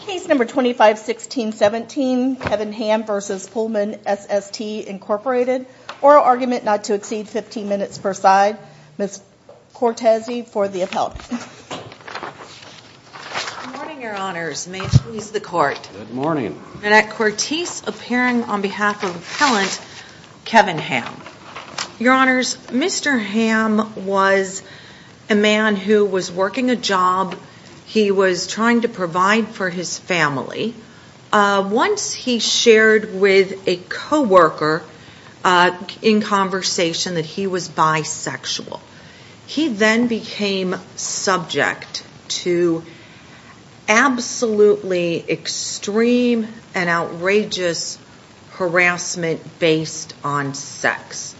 Case No. 251617, Kevin Hamm v. Pullman SST Inc. Oral argument not to exceed 15 minutes per side. Ms. Cortese for the appellant. Good morning, Your Honors. May it please the Court. Good morning. Annette Cortese appearing on behalf of the appellant, Kevin Hamm. Your Honors, Mr. Hamm was a man who was working a job. He was trying to provide for his family. Once he shared with a coworker in conversation that he was bisexual, he then became subject to absolutely extreme and outrageous harassment based on sex.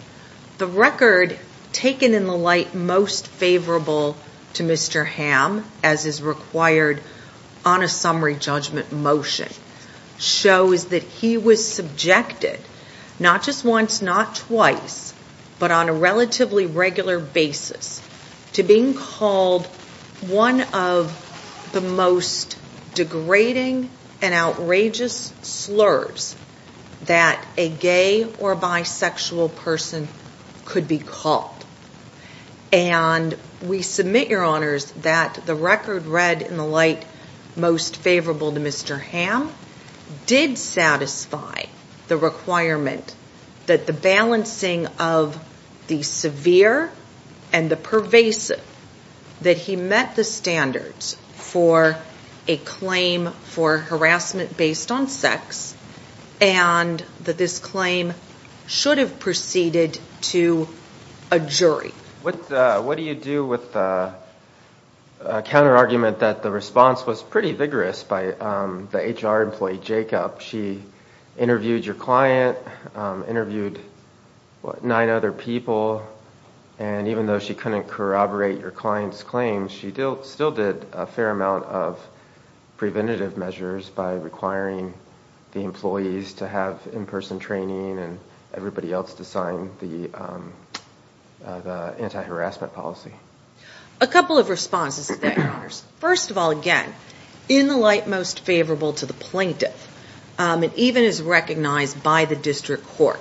The record taken in the light most favorable to Mr. Hamm, as is required on a summary judgment motion, shows that he was subjected not just once, not twice, but on a relatively regular basis to being called one of the most degrading and outrageous slurs that a gay or bisexual person could be called. And we submit, Your Honors, that the record read in the light most favorable to Mr. Hamm did satisfy the requirement that the balancing of the severe and the pervasive, that he met the standards for a claim for harassment based on sex, and that this claim should have proceeded to a jury. What do you do with the counterargument that the response was pretty vigorous by the HR employee, Jacob? She interviewed your client, interviewed nine other people, and even though she couldn't corroborate your client's claims, she still did a fair amount of preventative measures by requiring the employees to have in-person training and everybody else to sign the anti-harassment policy. A couple of responses to that, Your Honors. First of all, again, in the light most favorable to the plaintiff, and even is recognized by the district court,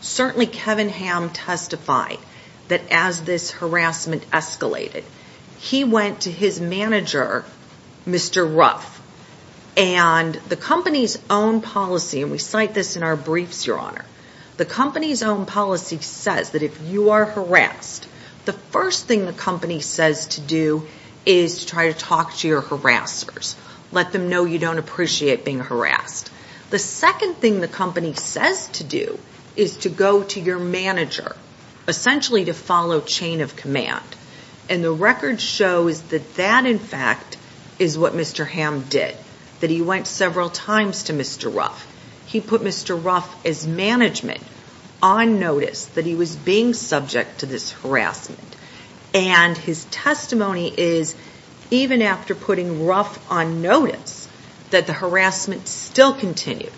certainly Kevin Hamm testified that as this harassment escalated, he went to his manager, Mr. Ruff, and the company's own policy, and we cite this in our briefs, Your Honor, the company's own policy says that if you are harassed, the first thing the company says to do is try to talk to your harassers, let them know you don't appreciate being harassed. The second thing the company says to do is to go to your manager, essentially to follow chain of command, and the record shows that that, in fact, is what Mr. Hamm did, that he went several times to Mr. Ruff. He put Mr. Ruff as management on notice that he was being subject to this harassment, and his testimony is, even after putting Ruff on notice, that the harassment still continued.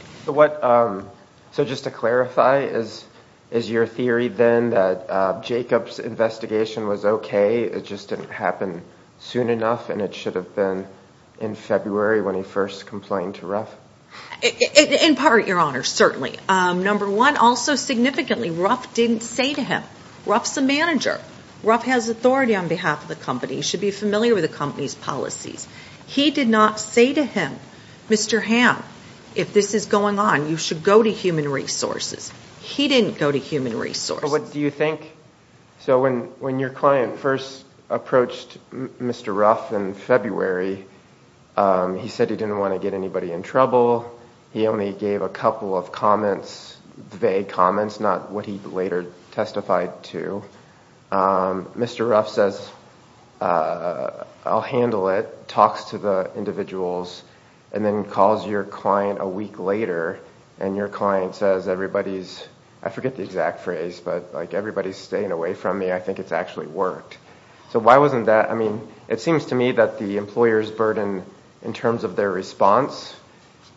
So just to clarify, is your theory then that Jacob's investigation was okay, it just didn't happen soon enough, and it should have been in February when he first complained to Ruff? In part, Your Honor, certainly. Number one, also significantly, Ruff didn't say to him, Ruff's the manager, Ruff has authority on behalf of the company, should be familiar with the company's policies. He did not say to him, Mr. Hamm, if this is going on, you should go to Human Resources. He didn't go to Human Resources. So when your client first approached Mr. Ruff in February, he said he didn't want to get anybody in trouble, he only gave a couple of vague comments, not what he later testified to. Mr. Ruff says, I'll handle it, talks to the individuals, and then calls your client a week later, and your client says, everybody's, I forget the exact phrase, but everybody's staying away from me, I think it's actually worked. So why wasn't that, I mean, it seems to me that the employer's burden in terms of their response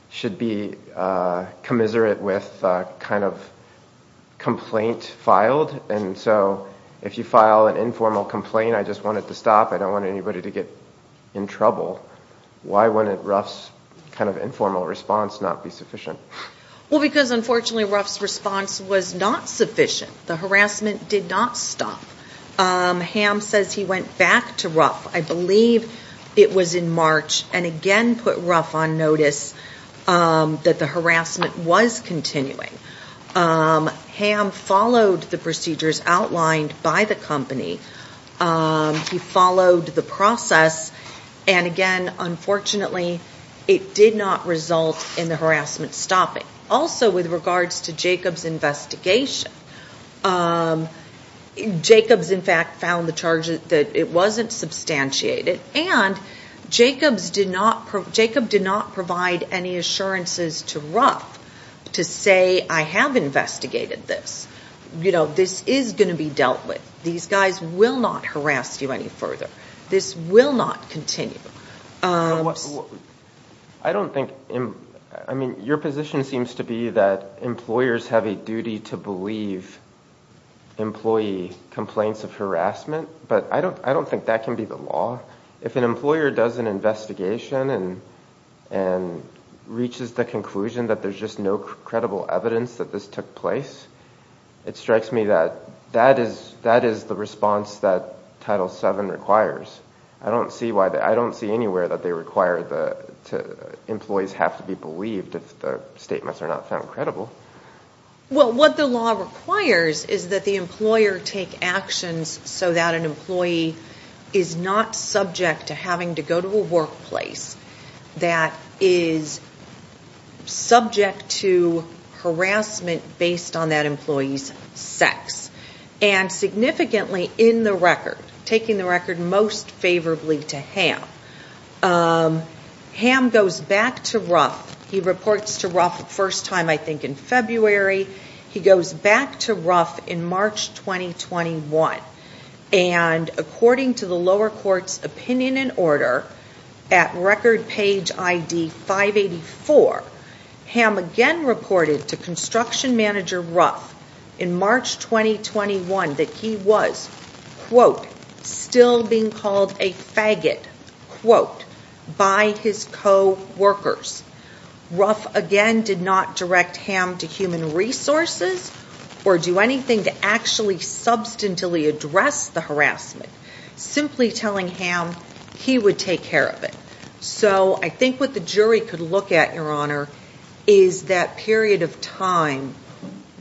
should be commiserate with kind of complaint filed, and so if you file an informal complaint, I just want it to stop, I don't want anybody to get in trouble, why wouldn't Ruff's kind of informal response not be sufficient? Well, because unfortunately Ruff's response was not sufficient. The harassment did not stop. Hamm says he went back to Ruff, I believe it was in March, and again put Ruff on notice that the harassment was continuing. Hamm followed the procedures outlined by the company, he followed the process, and again, unfortunately, it did not result in the harassment stopping. Also with regards to Jacobs' investigation, Jacobs in fact found the charge that it wasn't substantiated, and Jacobs did not provide any assurances to Ruff to say, I have investigated this, this is going to be dealt with, these guys will not harass you any further, this will not continue. I don't think, I mean, your position seems to be that employers have a duty to believe employee complaints of harassment, but I don't think that can be the law. If an employer does an investigation and reaches the conclusion that there's just no credible evidence that this took place, it strikes me that that is the response that Title VII requires. I don't see anywhere that they require that employees have to be believed if the statements are not found credible. Well, what the law requires is that the employer take actions so that an employee is not subject to having to go to a workplace that is subject to harassment based on that employee's sex, and significantly in the record, taking the record most favorably to Hamm. Hamm goes back to Ruff. He reports to Ruff the first time I think in February. He goes back to Ruff in March 2021, and according to the lower court's opinion and order at record page ID 584, Hamm again reported to construction manager Ruff in March 2021 that he was, quote, still being called a faggot. Quote, by his coworkers. Ruff again did not direct Hamm to human resources or do anything to actually substantively address the harassment, simply telling Hamm he would take care of it. So I think what the jury could look at, Your Honor, is that period of time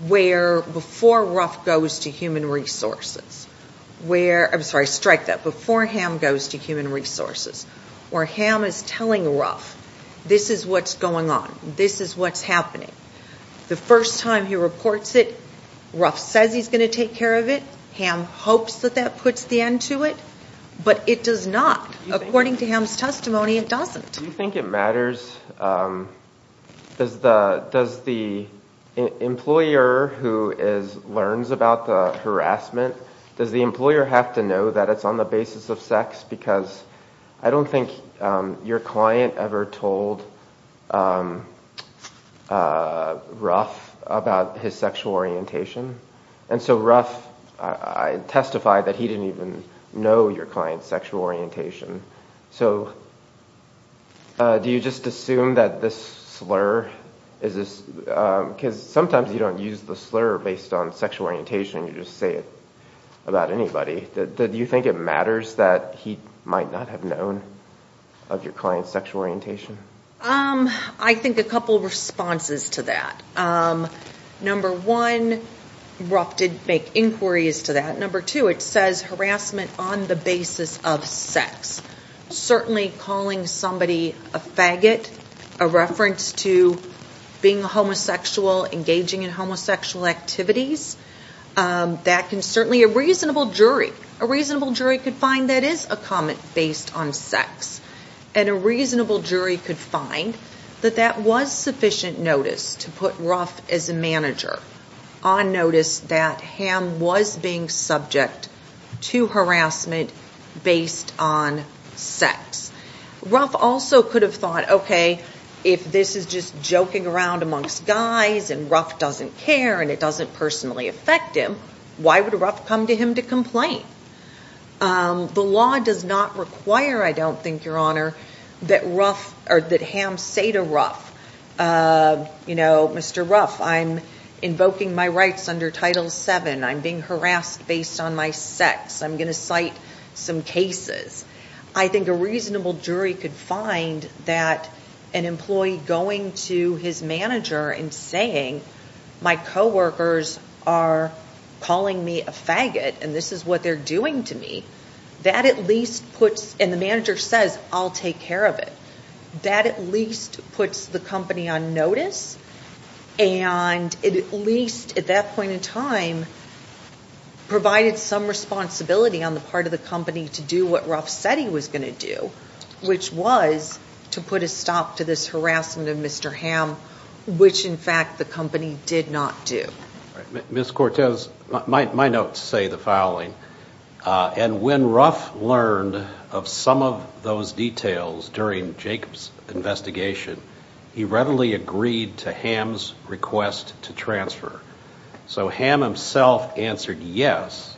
where before Ruff goes to human resources, where, I'm sorry, strike that, before Hamm goes to human resources, where Hamm is telling Ruff this is what's going on, this is what's happening. The first time he reports it, Ruff says he's going to take care of it. Hamm hopes that that puts the end to it, but it does not. According to Hamm's testimony, it doesn't. Do you think it matters? Does the employer who learns about the harassment, does the employer have to know that it's on the basis of sex? Because I don't think your client ever told Ruff about his sexual orientation. And so Ruff testified that he didn't even know your client's sexual orientation. So do you just assume that this slur, because sometimes you don't use the slur based on sexual orientation, you just say it about anybody. Do you think it matters that he might not have known of your client's sexual orientation? I think a couple of responses to that. Number one, Ruff did make inquiries to that. Number two, it says harassment on the basis of sex. Certainly calling somebody a faggot, a reference to being a homosexual, engaging in homosexual activities, that can certainly, a reasonable jury, a reasonable jury could find that is a comment based on sex. And a reasonable jury could find that that was sufficient notice to put Ruff as a manager on notice that Hamm was being subject to harassment based on sex. Ruff also could have thought, okay, if this is just joking around amongst guys and Ruff doesn't care and it doesn't personally affect him, why would Ruff come to him to complain? The law does not require, I don't think, Your Honor, that Ruff or that Hamm say to Ruff, you know, Mr. Ruff, I'm invoking my rights under Title VII. I'm being harassed based on my sex. I'm going to cite some cases. I think a reasonable jury could find that an employee going to his manager and saying, my coworkers are calling me a faggot and this is what they're doing to me, that at least puts, and the manager says, I'll take care of it. That at least puts the company on notice and at least at that point in time provided some responsibility on the part of the company to do what Ruff said he was going to do, which was to put a stop to this harassment of Mr. Hamm, which in fact the company did not do. Ms. Cortez, my notes say the following, and when Ruff learned of some of those details during Jacob's investigation, he readily agreed to Hamm's request to transfer. So Hamm himself answered yes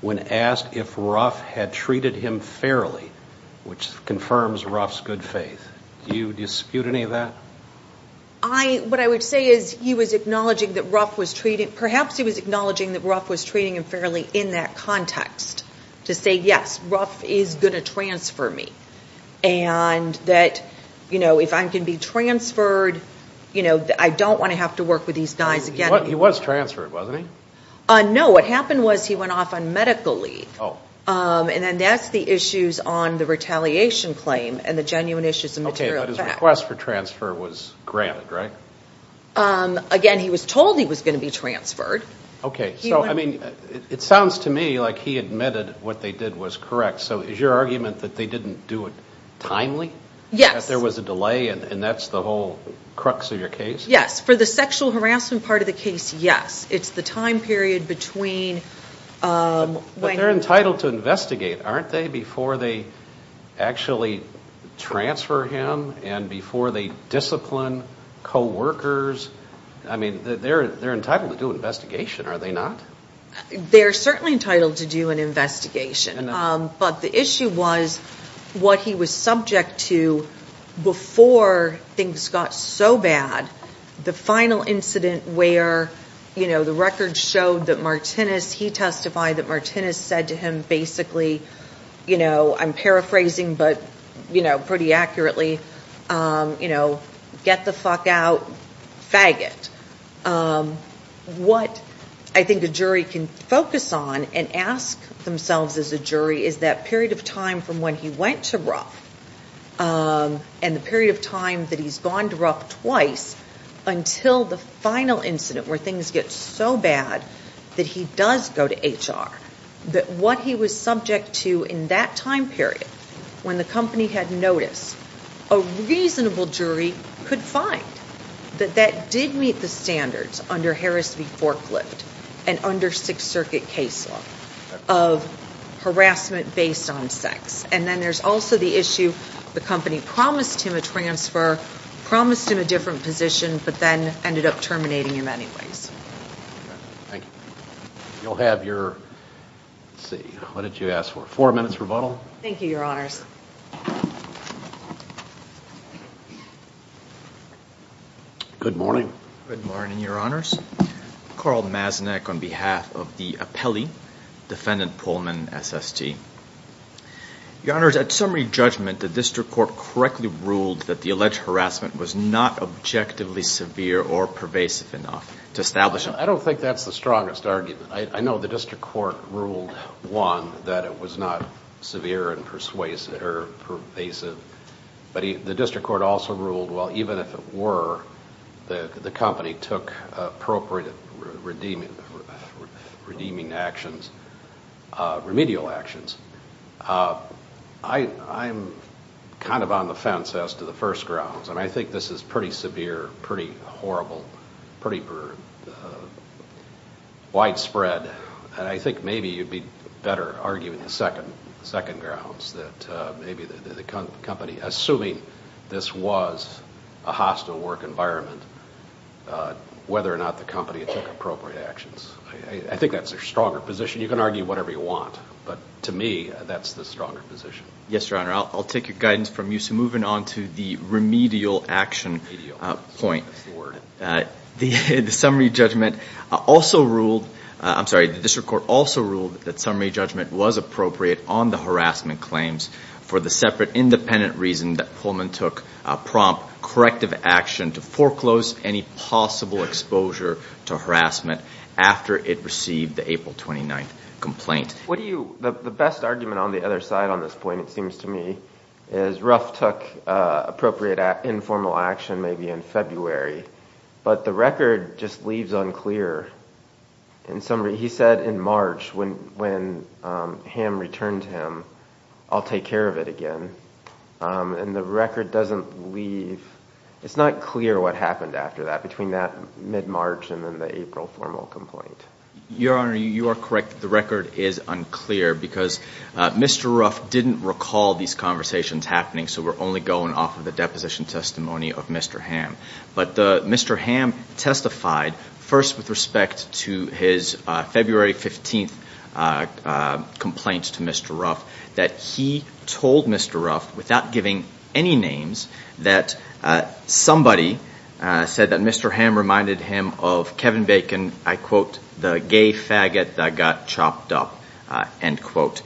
when asked if Ruff had treated him fairly, which confirms Ruff's good faith. Do you dispute any of that? I, what I would say is he was acknowledging that Ruff was treating, perhaps he was acknowledging that Ruff was treating him fairly in that context to say, yes, Ruff is going to transfer me and that, you know, if I can be transferred, you know, I don't want to have to work with these guys again. He was transferred, wasn't he? No, what happened was he went off on medical leave. Oh. And then that's the issues on the retaliation claim and the genuine issues of material fact. But his request for transfer was granted, right? Again, he was told he was going to be transferred. Okay. So, I mean, it sounds to me like he admitted what they did was correct. So is your argument that they didn't do it timely? Yes. That there was a delay and that's the whole crux of your case? Yes. For the sexual harassment part of the case, yes. It's the time period between when... But they're entitled to investigate, aren't they, before they actually transfer him and before they discipline co-workers? I mean, they're entitled to do an investigation, are they not? They're certainly entitled to do an investigation. I know. But the issue was what he was subject to before things got so bad. The final incident where, you know, the records showed that Martinez, he testified that Martinez said to him basically, you know, I'm paraphrasing but, you know, pretty accurately, you know, get the fuck out, faggot. What I think a jury can focus on and ask themselves as a jury is that period of time from when he went to RUF and the period of time that he's gone to RUF twice until the final incident where things get so bad that he does go to HR. That what he was subject to in that time period when the company had noticed, a reasonable jury could find that that did meet the standards under Harris v. Forklift and under Sixth Circuit case law of harassment based on sex. And then there's also the issue the company promised him a transfer, promised him a different position, but then ended up terminating him anyways. Thank you. You'll have your, let's see, what did you ask for? Four minutes rebuttal. Thank you, Your Honors. Good morning. Good morning, Your Honors. Carl Maznak on behalf of the Apelli Defendant Pullman SST. Your Honors, at summary judgment, the district court correctly ruled that the alleged harassment was not objectively severe or pervasive enough to establish it. I don't think that's the strongest argument. I know the district court ruled, one, that it was not severe and pervasive, but the district court also ruled, well, even if it were, the company took appropriate redeeming actions, remedial actions. I'm kind of on the fence as to the first grounds, and I think this is pretty severe, pretty horrible, pretty widespread. And I think maybe you'd be better arguing the second grounds, that maybe the company, assuming this was a hostile work environment, whether or not the company took appropriate actions. I think that's their stronger position. You can argue whatever you want, but to me, that's the stronger position. Yes, Your Honor. I'll take your guidance from you. So moving on to the remedial action point. The summary judgment also ruled, I'm sorry, the district court also ruled that summary judgment was appropriate on the harassment claims for the separate independent reason that Pullman took prompt corrective action to foreclose any possible exposure to harassment after it received the April 29th action. The best argument on the other side on this point, it seems to me, is Ruff took appropriate informal action maybe in February, but the record just leaves unclear. In summary, he said in March when Ham returned to him, I'll take care of it again. And the record doesn't leave, it's not clear what happened after that, between that mid-March and then the April formal complaint. Your Honor, you are correct. The record is unclear because Mr. Ruff didn't recall these conversations happening, so we're only going off of the deposition testimony of Mr. Ham. But Mr. Ham testified first with respect to his February 15th complaint to Mr. Ruff that he told Mr. Ruff without giving any names that somebody said that Mr. Ham reminded him of Kevin Bacon, I quote, the gay faggot that got chopped up, end quote.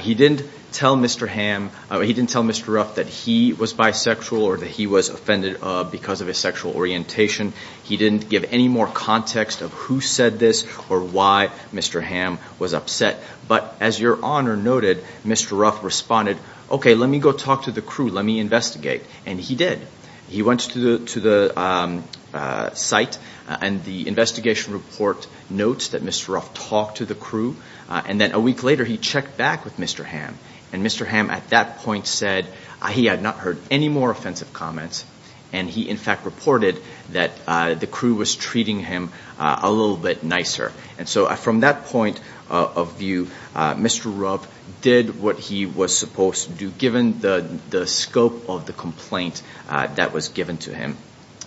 He didn't tell Mr. Ham, he didn't tell Mr. Ruff that he was bisexual or that he was offended because of his sexual orientation. He didn't give any more context of who said this or why Mr. Ham was upset. But as Your Honor noted, Mr. Ruff responded, okay, let me go talk to the crew, let me investigate. And he did. He went to the site and the investigation report notes that Mr. Ruff talked to the crew and then a week later he checked back with Mr. Ham. And Mr. Ham at that point said he had not heard any more offensive comments and he in fact reported that the crew was treating him a little bit nicer. And so from that point of view, Mr. Ruff did what he was supposed to do given the scope of the complaint that was given to him.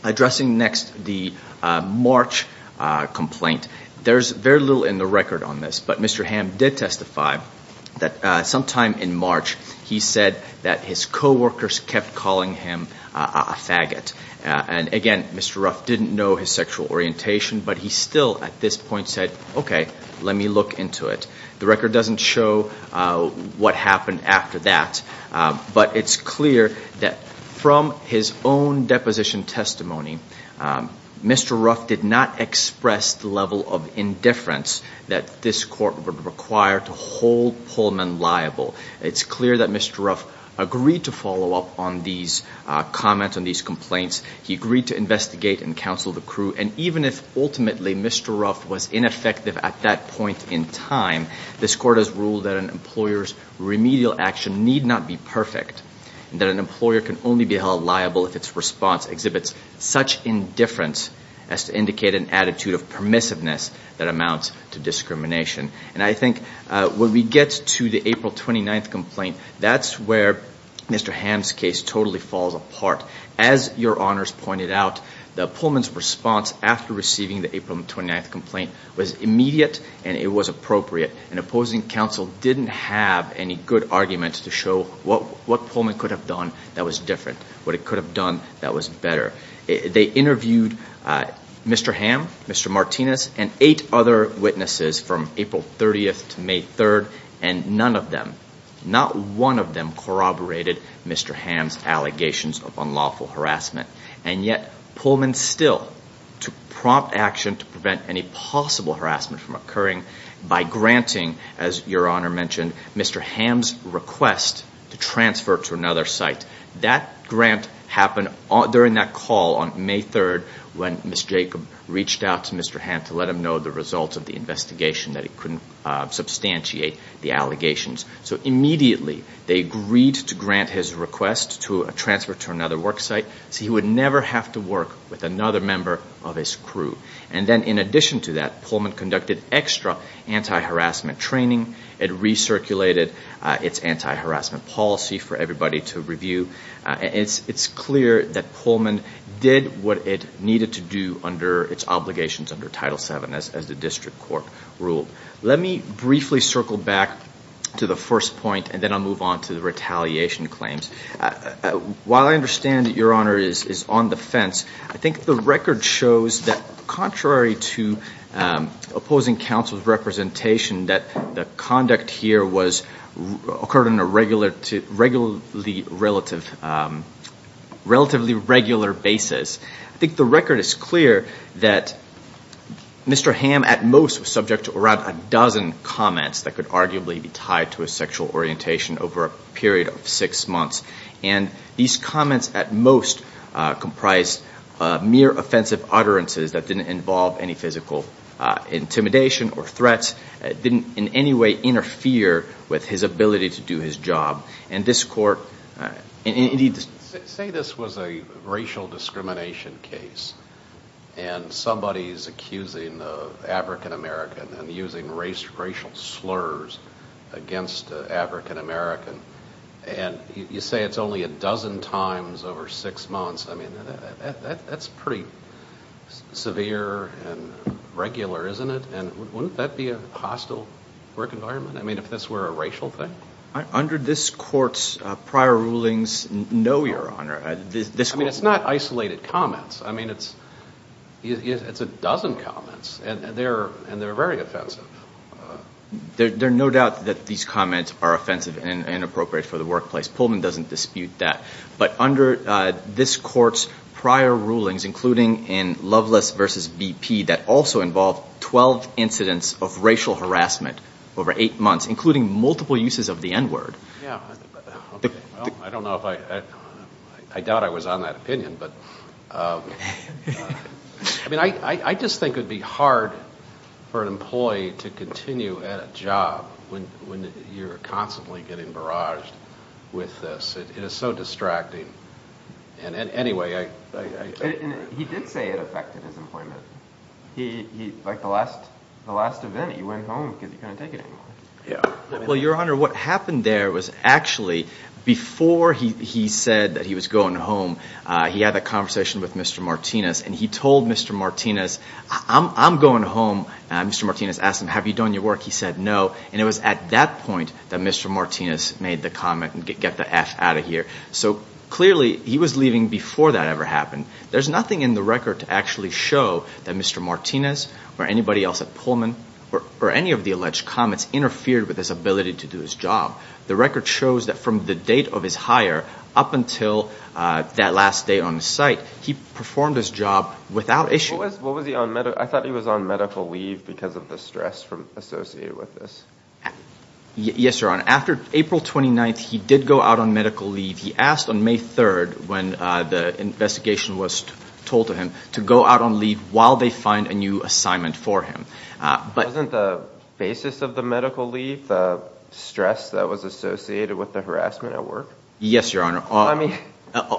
Addressing next the March complaint, there's very little in the record on this, but Mr. Ham did testify that sometime in March he said that his coworkers kept calling him a faggot. And again, Mr. Ruff didn't know his sexual orientation, but he still at this point said, okay, let me look into it. The record doesn't show what happened after that, but it's clear that from his own deposition testimony, Mr. Ruff did not express the level of indifference that this court would require to hold Pullman liable. It's clear that Mr. Ruff agreed to follow up on these comments, on these complaints. He agreed to investigate and counsel the crew. And even if ultimately Mr. Ruff was ineffective at that point in time, this court has ruled that an employer's remedial action need not be perfect. And that an employer can only be held liable if its response exhibits such indifference as to indicate an attitude of permissiveness that amounts to discrimination. And I think when we get to the April 29th complaint, that's where Mr. Ham's case totally falls apart. As your honors pointed out, the Pullman's response after receiving the April 29th complaint was immediate and it was appropriate. And opposing counsel didn't have any good arguments to show what Pullman could have done that was different, what it could have done that was better. They interviewed Mr. Ham, Mr. Martinez, and eight other witnesses from April 30th to May 3rd, and none of them, not one of them corroborated Mr. Ham's allegations of unlawful harassment. And yet Pullman still took prompt action to prevent any possible harassment from occurring by granting, as your honor mentioned, Mr. Ham's request to transfer to another site. That grant happened during that call on May 3rd when Ms. Jacob reached out to Mr. Ham to let him know the results of the investigation, that he couldn't substantiate the allegations. So immediately they agreed to grant his request to transfer to another work site so he would never have to work with another member of his crew. And then in addition to that, Pullman conducted extra anti-harassment training. It recirculated its anti-harassment policy for everybody to review. It's clear that Pullman did what it needed to do under its obligations under Title VII as the district court ruled. Let me briefly circle back to the first point and then I'll move on to the retaliation claims. While I understand that your honor is on the fence, I think the record shows that contrary to opposing counsel's representation, that the conduct here occurred on a relatively regular basis. I think the record is clear that Mr. Ham at most was subject to around a dozen comments that could arguably be tied to his sexual orientation over a period of six months. And these comments at most comprised mere offensive utterances that didn't involve any physical intimidation or threats, didn't in any way interfere with his ability to do his job. Say this was a racial discrimination case and somebody is accusing an African-American and using racial slurs against an African-American. And you say it's only a dozen times over six months. I mean, that's pretty severe and regular, isn't it? And wouldn't that be a hostile work environment if this were a racial thing? Under this court's prior rulings, no, your honor. I mean, it's not isolated comments. I mean, it's a dozen comments and they're very offensive. There's no doubt that these comments are offensive and inappropriate for the workplace. Pullman doesn't dispute that. But under this court's prior rulings, including in Loveless v. BP, that also involved 12 incidents of racial harassment over eight months, including multiple uses of the N-word. Yeah. Well, I don't know if I doubt I was on that opinion. But I mean, I just think it would be hard for an employee to continue at a job when you're constantly getting barraged with this. It is so distracting. Anyway. He did say it affected his employment. Like the last event, he went home because he couldn't take it anymore. Well, your honor, what happened there was actually before he said that he was going home, he had a conversation with Mr. Martinez and he told Mr. Martinez, I'm going home. Mr. Martinez asked him, have you done your work? He said no. And it was at that point that Mr. Martinez made the comment, get the F out of here. So clearly he was leaving before that ever happened. There's nothing in the record to actually show that Mr. Martinez or anybody else at Pullman or any of the alleged comments interfered with his ability to do his job. The record shows that from the date of his hire up until that last day on the site, he performed his job without issue. What was he on? I thought he was on medical leave because of the stress associated with this. Yes, your honor. After April 29th, he did go out on medical leave. He asked on May 3rd when the investigation was told to him to go out on leave while they find a new assignment for him. Wasn't the basis of the medical leave the stress that was associated with the harassment at work? Yes, your honor.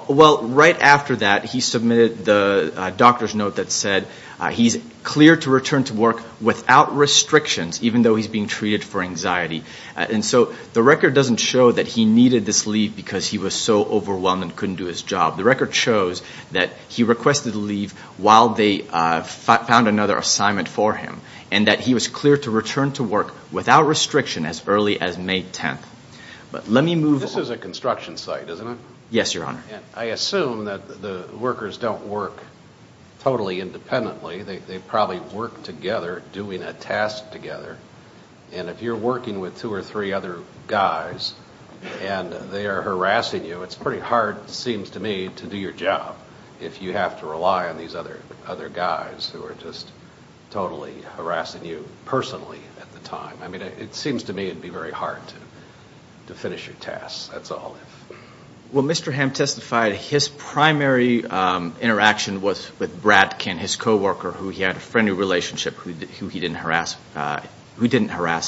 Well, right after that, he submitted the doctor's note that said he's clear to return to work without restrictions, even though he's being treated for anxiety. And so the record doesn't show that he needed this leave because he was so overwhelmed and couldn't do his job. The record shows that he requested leave while they found another assignment for him and that he was clear to return to work without restriction as early as May 10th. This is a construction site, isn't it? Yes, your honor. I assume that the workers don't work totally independently. They probably work together doing a task together. And if you're working with two or three other guys and they are harassing you, it's pretty hard, it seems to me, to do your job if you have to rely on these other guys who are just totally harassing you personally at the time. I mean, it seems to me it would be very hard to finish your tasks, that's all. Well, Mr. Hamm testified his primary interaction was with Bradkin, his co-worker, who he had a friendly relationship with who didn't harass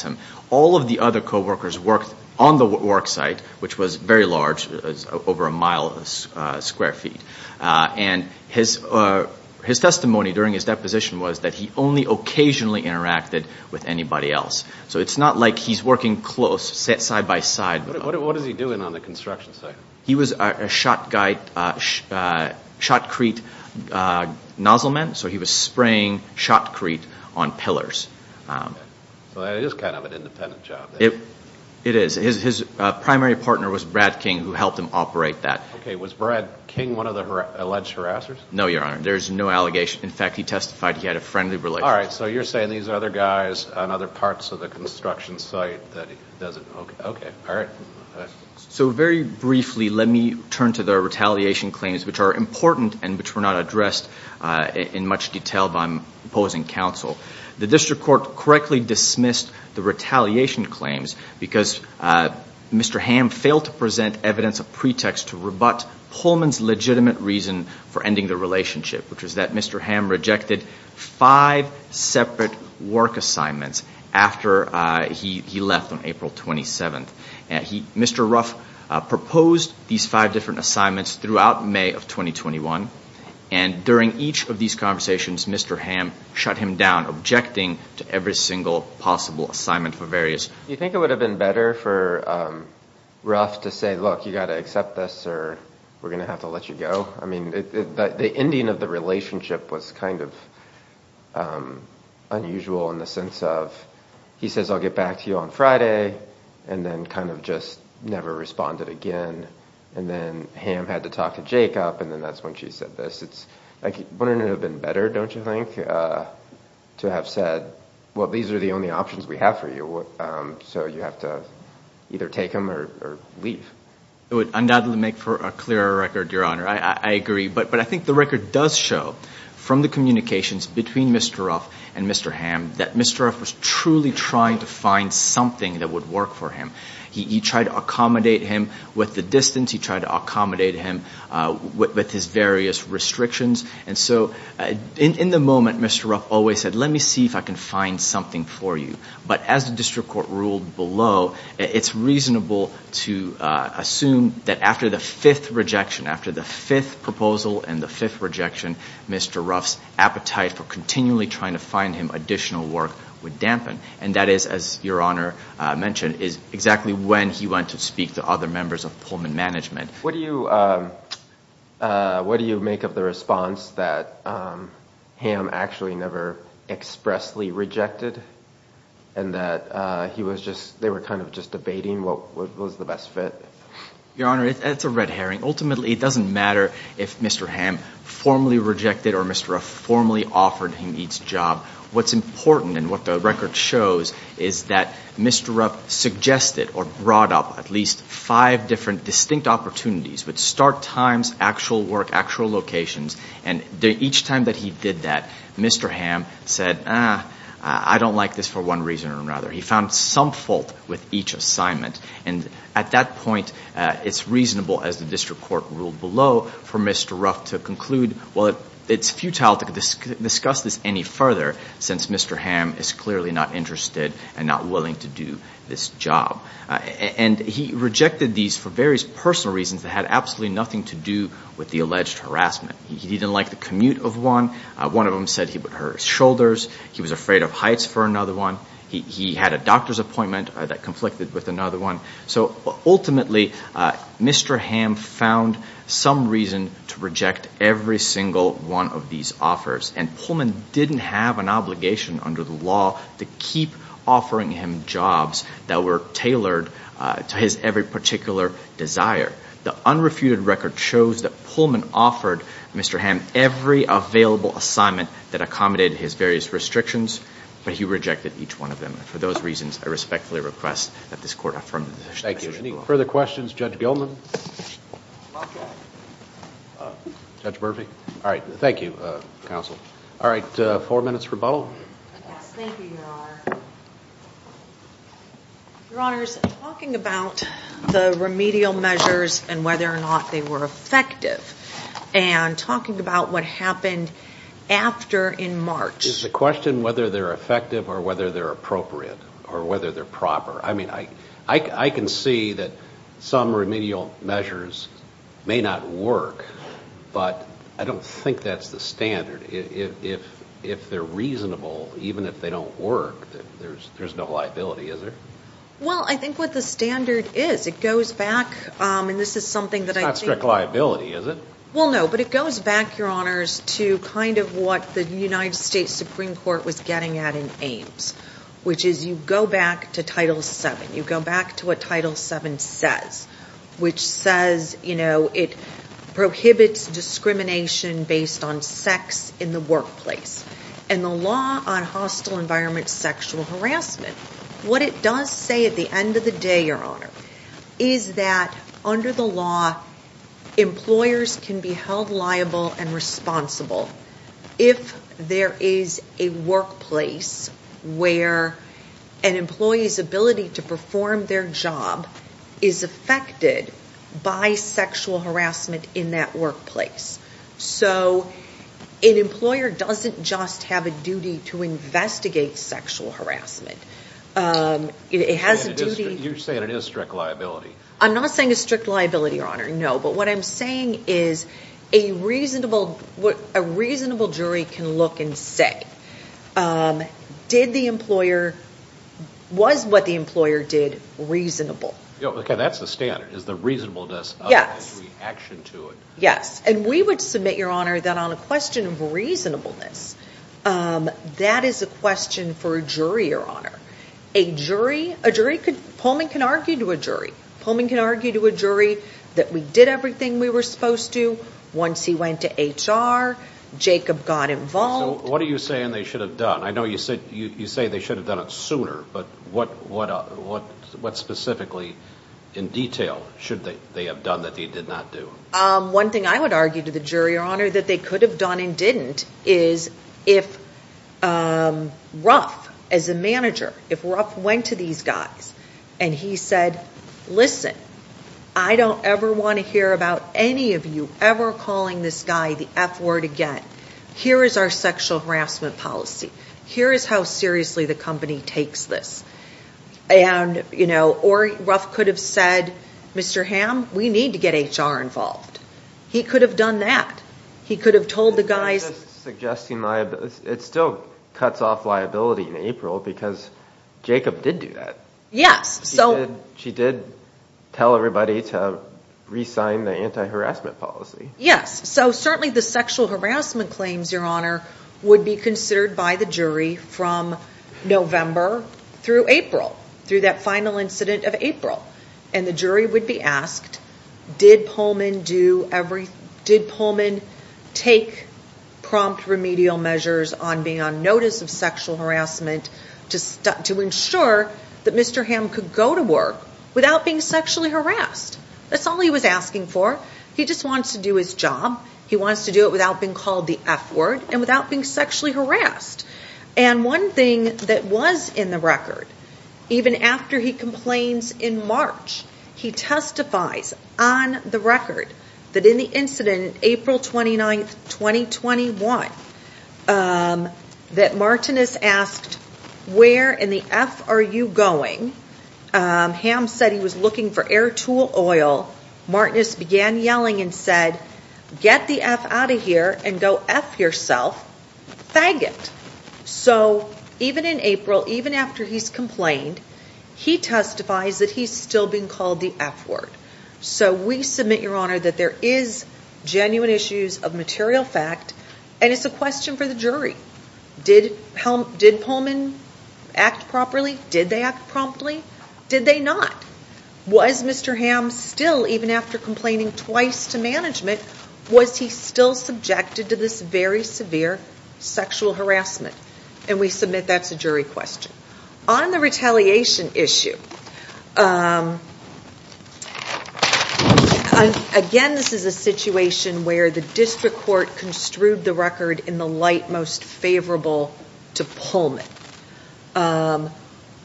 him. All of the other co-workers worked on the work site, which was very large, over a mile square feet. And his testimony during his deposition was that he only occasionally interacted with anybody else. So it's not like he's working close, side by side. What was he doing on the construction site? He was a shotcrete nozzle man, so he was spraying shotcrete on pillars. So that is kind of an independent job. It is. His primary partner was Bradkin, who helped him operate that. Okay, was Bradkin one of the alleged harassers? No, your honor, there is no allegation. In fact, he testified he had a friendly relationship. All right, so you're saying these other guys on other parts of the construction site that he doesn't. Okay, all right. So very briefly, let me turn to the retaliation claims, which are important and which were not addressed in much detail by my opposing counsel. The district court correctly dismissed the retaliation claims because Mr. Hamm failed to present evidence, a pretext to rebut Pullman's legitimate reason for ending the relationship, which was that Mr. Hamm rejected five separate work assignments after he left on April 27th. Mr. Ruff proposed these five different assignments throughout May of 2021. And during each of these conversations, Mr. Hamm shut him down, objecting to every single possible assignment for various. Do you think it would have been better for Ruff to say, look, you got to accept this or we're going to have to let you go? I mean, the ending of the relationship was kind of unusual in the sense of he says I'll get back to you on Friday and then kind of just never responded again. And then Hamm had to talk to Jacob. And then that's when she said this. It's like wouldn't it have been better, don't you think, to have said, well, these are the only options we have for you. So you have to either take him or leave. It would undoubtedly make for a clearer record, Your Honor. I agree. But I think the record does show from the communications between Mr. Ruff and Mr. Hamm that Mr. Ruff was truly trying to find something that would work for him. He tried to accommodate him with the distance. He tried to accommodate him with his various restrictions. And so in the moment, Mr. Ruff always said, let me see if I can find something for you. But as the district court ruled below, it's reasonable to assume that after the fifth rejection, after the fifth proposal and the fifth rejection, Mr. Ruff's appetite for continually trying to find him additional work would dampen. And that is, as Your Honor mentioned, is exactly when he went to speak to other members of Pullman management. What do you make of the response that Hamm actually never expressly rejected and that they were kind of just debating what was the best fit? Your Honor, it's a red herring. Ultimately, it doesn't matter if Mr. Hamm formally rejected or Mr. Ruff formally offered him each job. What's important and what the record shows is that Mr. Ruff suggested or brought up at least five different distinct opportunities, with start times, actual work, actual locations. And each time that he did that, Mr. Hamm said, I don't like this for one reason or another. He found some fault with each assignment. And at that point, it's reasonable, as the district court ruled below, for Mr. Ruff to conclude, well, it's futile to discuss this any further since Mr. Hamm is clearly not interested and not willing to do this job. And he rejected these for various personal reasons that had absolutely nothing to do with the alleged harassment. He didn't like the commute of one. One of them said he would hurt his shoulders. He was afraid of heights for another one. He had a doctor's appointment that conflicted with another one. So ultimately, Mr. Hamm found some reason to reject every single one of these offers. And Pullman didn't have an obligation under the law to keep offering him jobs that were tailored to his every particular desire. The unrefuted record shows that Pullman offered Mr. Hamm every available assignment that accommodated his various restrictions, but he rejected each one of them. And for those reasons, I respectfully request that this court affirm the decision. Thank you. Any further questions? Judge Gilman? Judge Murphy? All right. Thank you, counsel. All right. Four minutes rebuttal. Yes. Thank you, Your Honor. Your Honors, talking about the remedial measures and whether or not they were effective, and talking about what happened after in March. Is the question whether they're effective or whether they're appropriate or whether they're proper? I mean, I can see that some remedial measures may not work, but I don't think that's the standard. If they're reasonable, even if they don't work, there's no liability, is there? Well, I think what the standard is, it goes back, and this is something that I think. It's not strict liability, is it? Well, no, but it goes back, Your Honors, to kind of what the United States Supreme Court was getting at in Ames, which is you go back to Title VII. You go back to what Title VII says, which says it prohibits discrimination based on sex in the workplace. And the law on hostile environment sexual harassment, what it does say at the end of the day, Your Honor, is that under the law, employers can be held liable and responsible if there is a workplace where an employee's ability to perform their job is affected by sexual harassment in that workplace. So an employer doesn't just have a duty to investigate sexual harassment. It has a duty. You're saying it is strict liability. I'm not saying it's strict liability, Your Honor, no. But what I'm saying is a reasonable jury can look and say, was what the employer did reasonable? Okay, that's the standard, is the reasonableness of the action to it. Yes, and we would submit, Your Honor, that on a question of reasonableness, that is a question for a jury, Your Honor. A jury, a jury, Pullman can argue to a jury. Pullman can argue to a jury that we did everything we were supposed to. Once he went to HR, Jacob got involved. So what are you saying they should have done? I know you say they should have done it sooner, but what specifically in detail should they have done that they did not do? One thing I would argue to the jury, Your Honor, that they could have done and didn't is if Ruff, as a manager, if Ruff went to these guys and he said, listen, I don't ever want to hear about any of you ever calling this guy the F word again. Here is our sexual harassment policy. Here is how seriously the company takes this. And, you know, or Ruff could have said, Mr. Ham, we need to get HR involved. He could have done that. He could have told the guys. It still cuts off liability in April because Jacob did do that. Yes, so. She did tell everybody to re-sign the anti-harassment policy. Yes, so certainly the sexual harassment claims, Your Honor, would be considered by the jury from November through April, through that final incident of April. And the jury would be asked, did Pullman do every, did Pullman take prompt remedial measures on being on notice of sexual harassment to ensure that Mr. Ham could go to work without being sexually harassed? That's all he was asking for. He just wants to do his job. He wants to do it without being called the F word and without being sexually harassed. And one thing that was in the record, even after he complains in March, he testifies on the record that in the incident, April 29th, 2021, that Martinez asked, where in the F are you going? Ham said he was looking for air tool oil. Martinez began yelling and said, get the F out of here and go F yourself, faggot. So even in April, even after he's complained, he testifies that he's still being called the F word. So we submit, Your Honor, that there is genuine issues of material fact, and it's a question for the jury. Did Pullman act properly? Did they act promptly? Did they not? Was Mr. Ham still, even after complaining twice to management, was he still subjected to this very severe sexual harassment? And we submit that's a jury question. On the retaliation issue, again, this is a situation where the district court construed the record in the light most favorable to Pullman.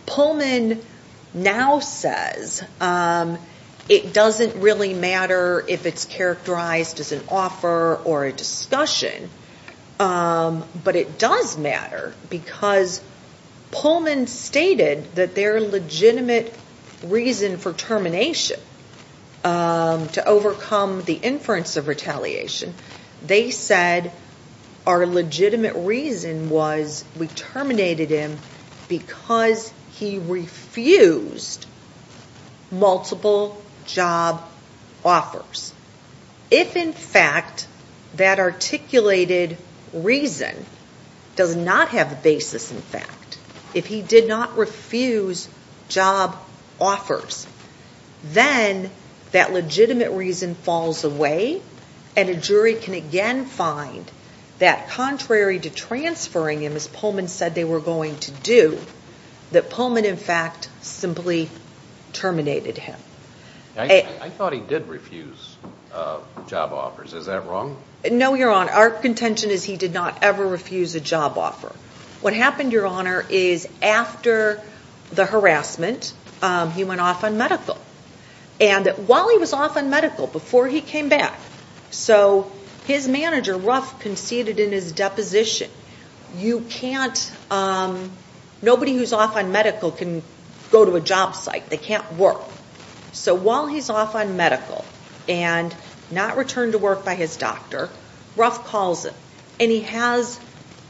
Pullman now says it doesn't really matter if it's characterized as an offer or a discussion, but it does matter because Pullman stated that their legitimate reason for termination to overcome the inference of retaliation, they said our legitimate reason was we terminated him because he refused multiple job offers. If, in fact, that articulated reason does not have the basis in fact, if he did not refuse job offers, then that legitimate reason falls away, and a jury can again find that contrary to transferring him as Pullman said they were going to do, that Pullman, in fact, simply terminated him. I thought he did refuse job offers. Is that wrong? No, Your Honor. Our contention is he did not ever refuse a job offer. What happened, Your Honor, is after the harassment, he went off on medical. And while he was off on medical, before he came back, so his manager, Ruff, conceded in his deposition, you can't, nobody who's off on medical can go to a job site. They can't work. So while he's off on medical and not returned to work by his doctor, Ruff calls him, and he has,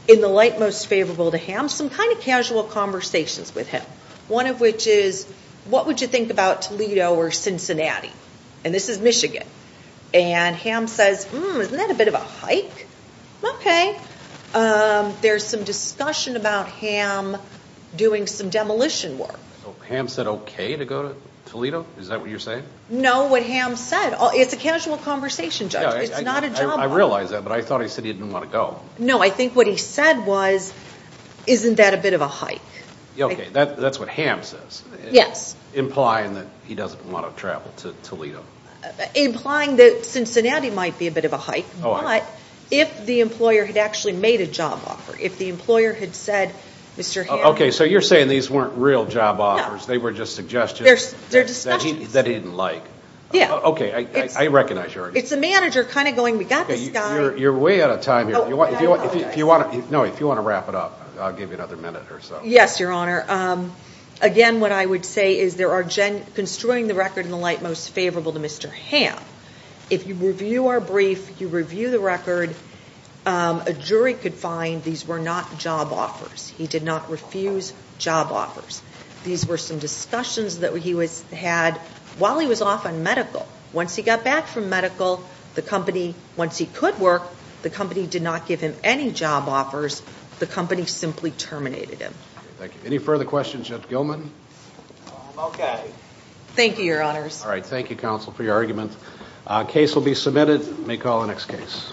in the light most favorable to Ham, some kind of casual conversations with him, one of which is, what would you think about Toledo or Cincinnati? And this is Michigan. And Ham says, hmm, isn't that a bit of a hike? Okay. There's some discussion about Ham doing some demolition work. Ham said okay to go to Toledo? Is that what you're saying? No, what Ham said. It's a casual conversation, Judge. It's not a job offer. I realize that, but I thought he said he didn't want to go. No, I think what he said was, isn't that a bit of a hike? Okay, that's what Ham says. Yes. Implying that he doesn't want to travel to Toledo. Implying that Cincinnati might be a bit of a hike, but if the employer had actually made a job offer, if the employer had said, Mr. Ham. Okay, so you're saying these weren't real job offers. They were just suggestions. They're discussions. That he didn't like. Yeah. Okay, I recognize your argument. It's the manager kind of going, we got this guy. You're way out of time here. Oh, I apologize. No, if you want to wrap it up, I'll give you another minute or so. Yes, Your Honor. Again, what I would say is there are, construing the record in the light most favorable to Mr. Ham, if you review our brief, you review the record, a jury could find these were not job offers. He did not refuse job offers. These were some discussions that he had while he was off on medical. Once he got back from medical, the company, once he could work, the company did not give him any job offers. The company simply terminated him. Thank you. Any further questions? Judge Gilman? Okay. Thank you, Your Honors. All right. Thank you, counsel, for your argument. Case will be submitted. May call the next case.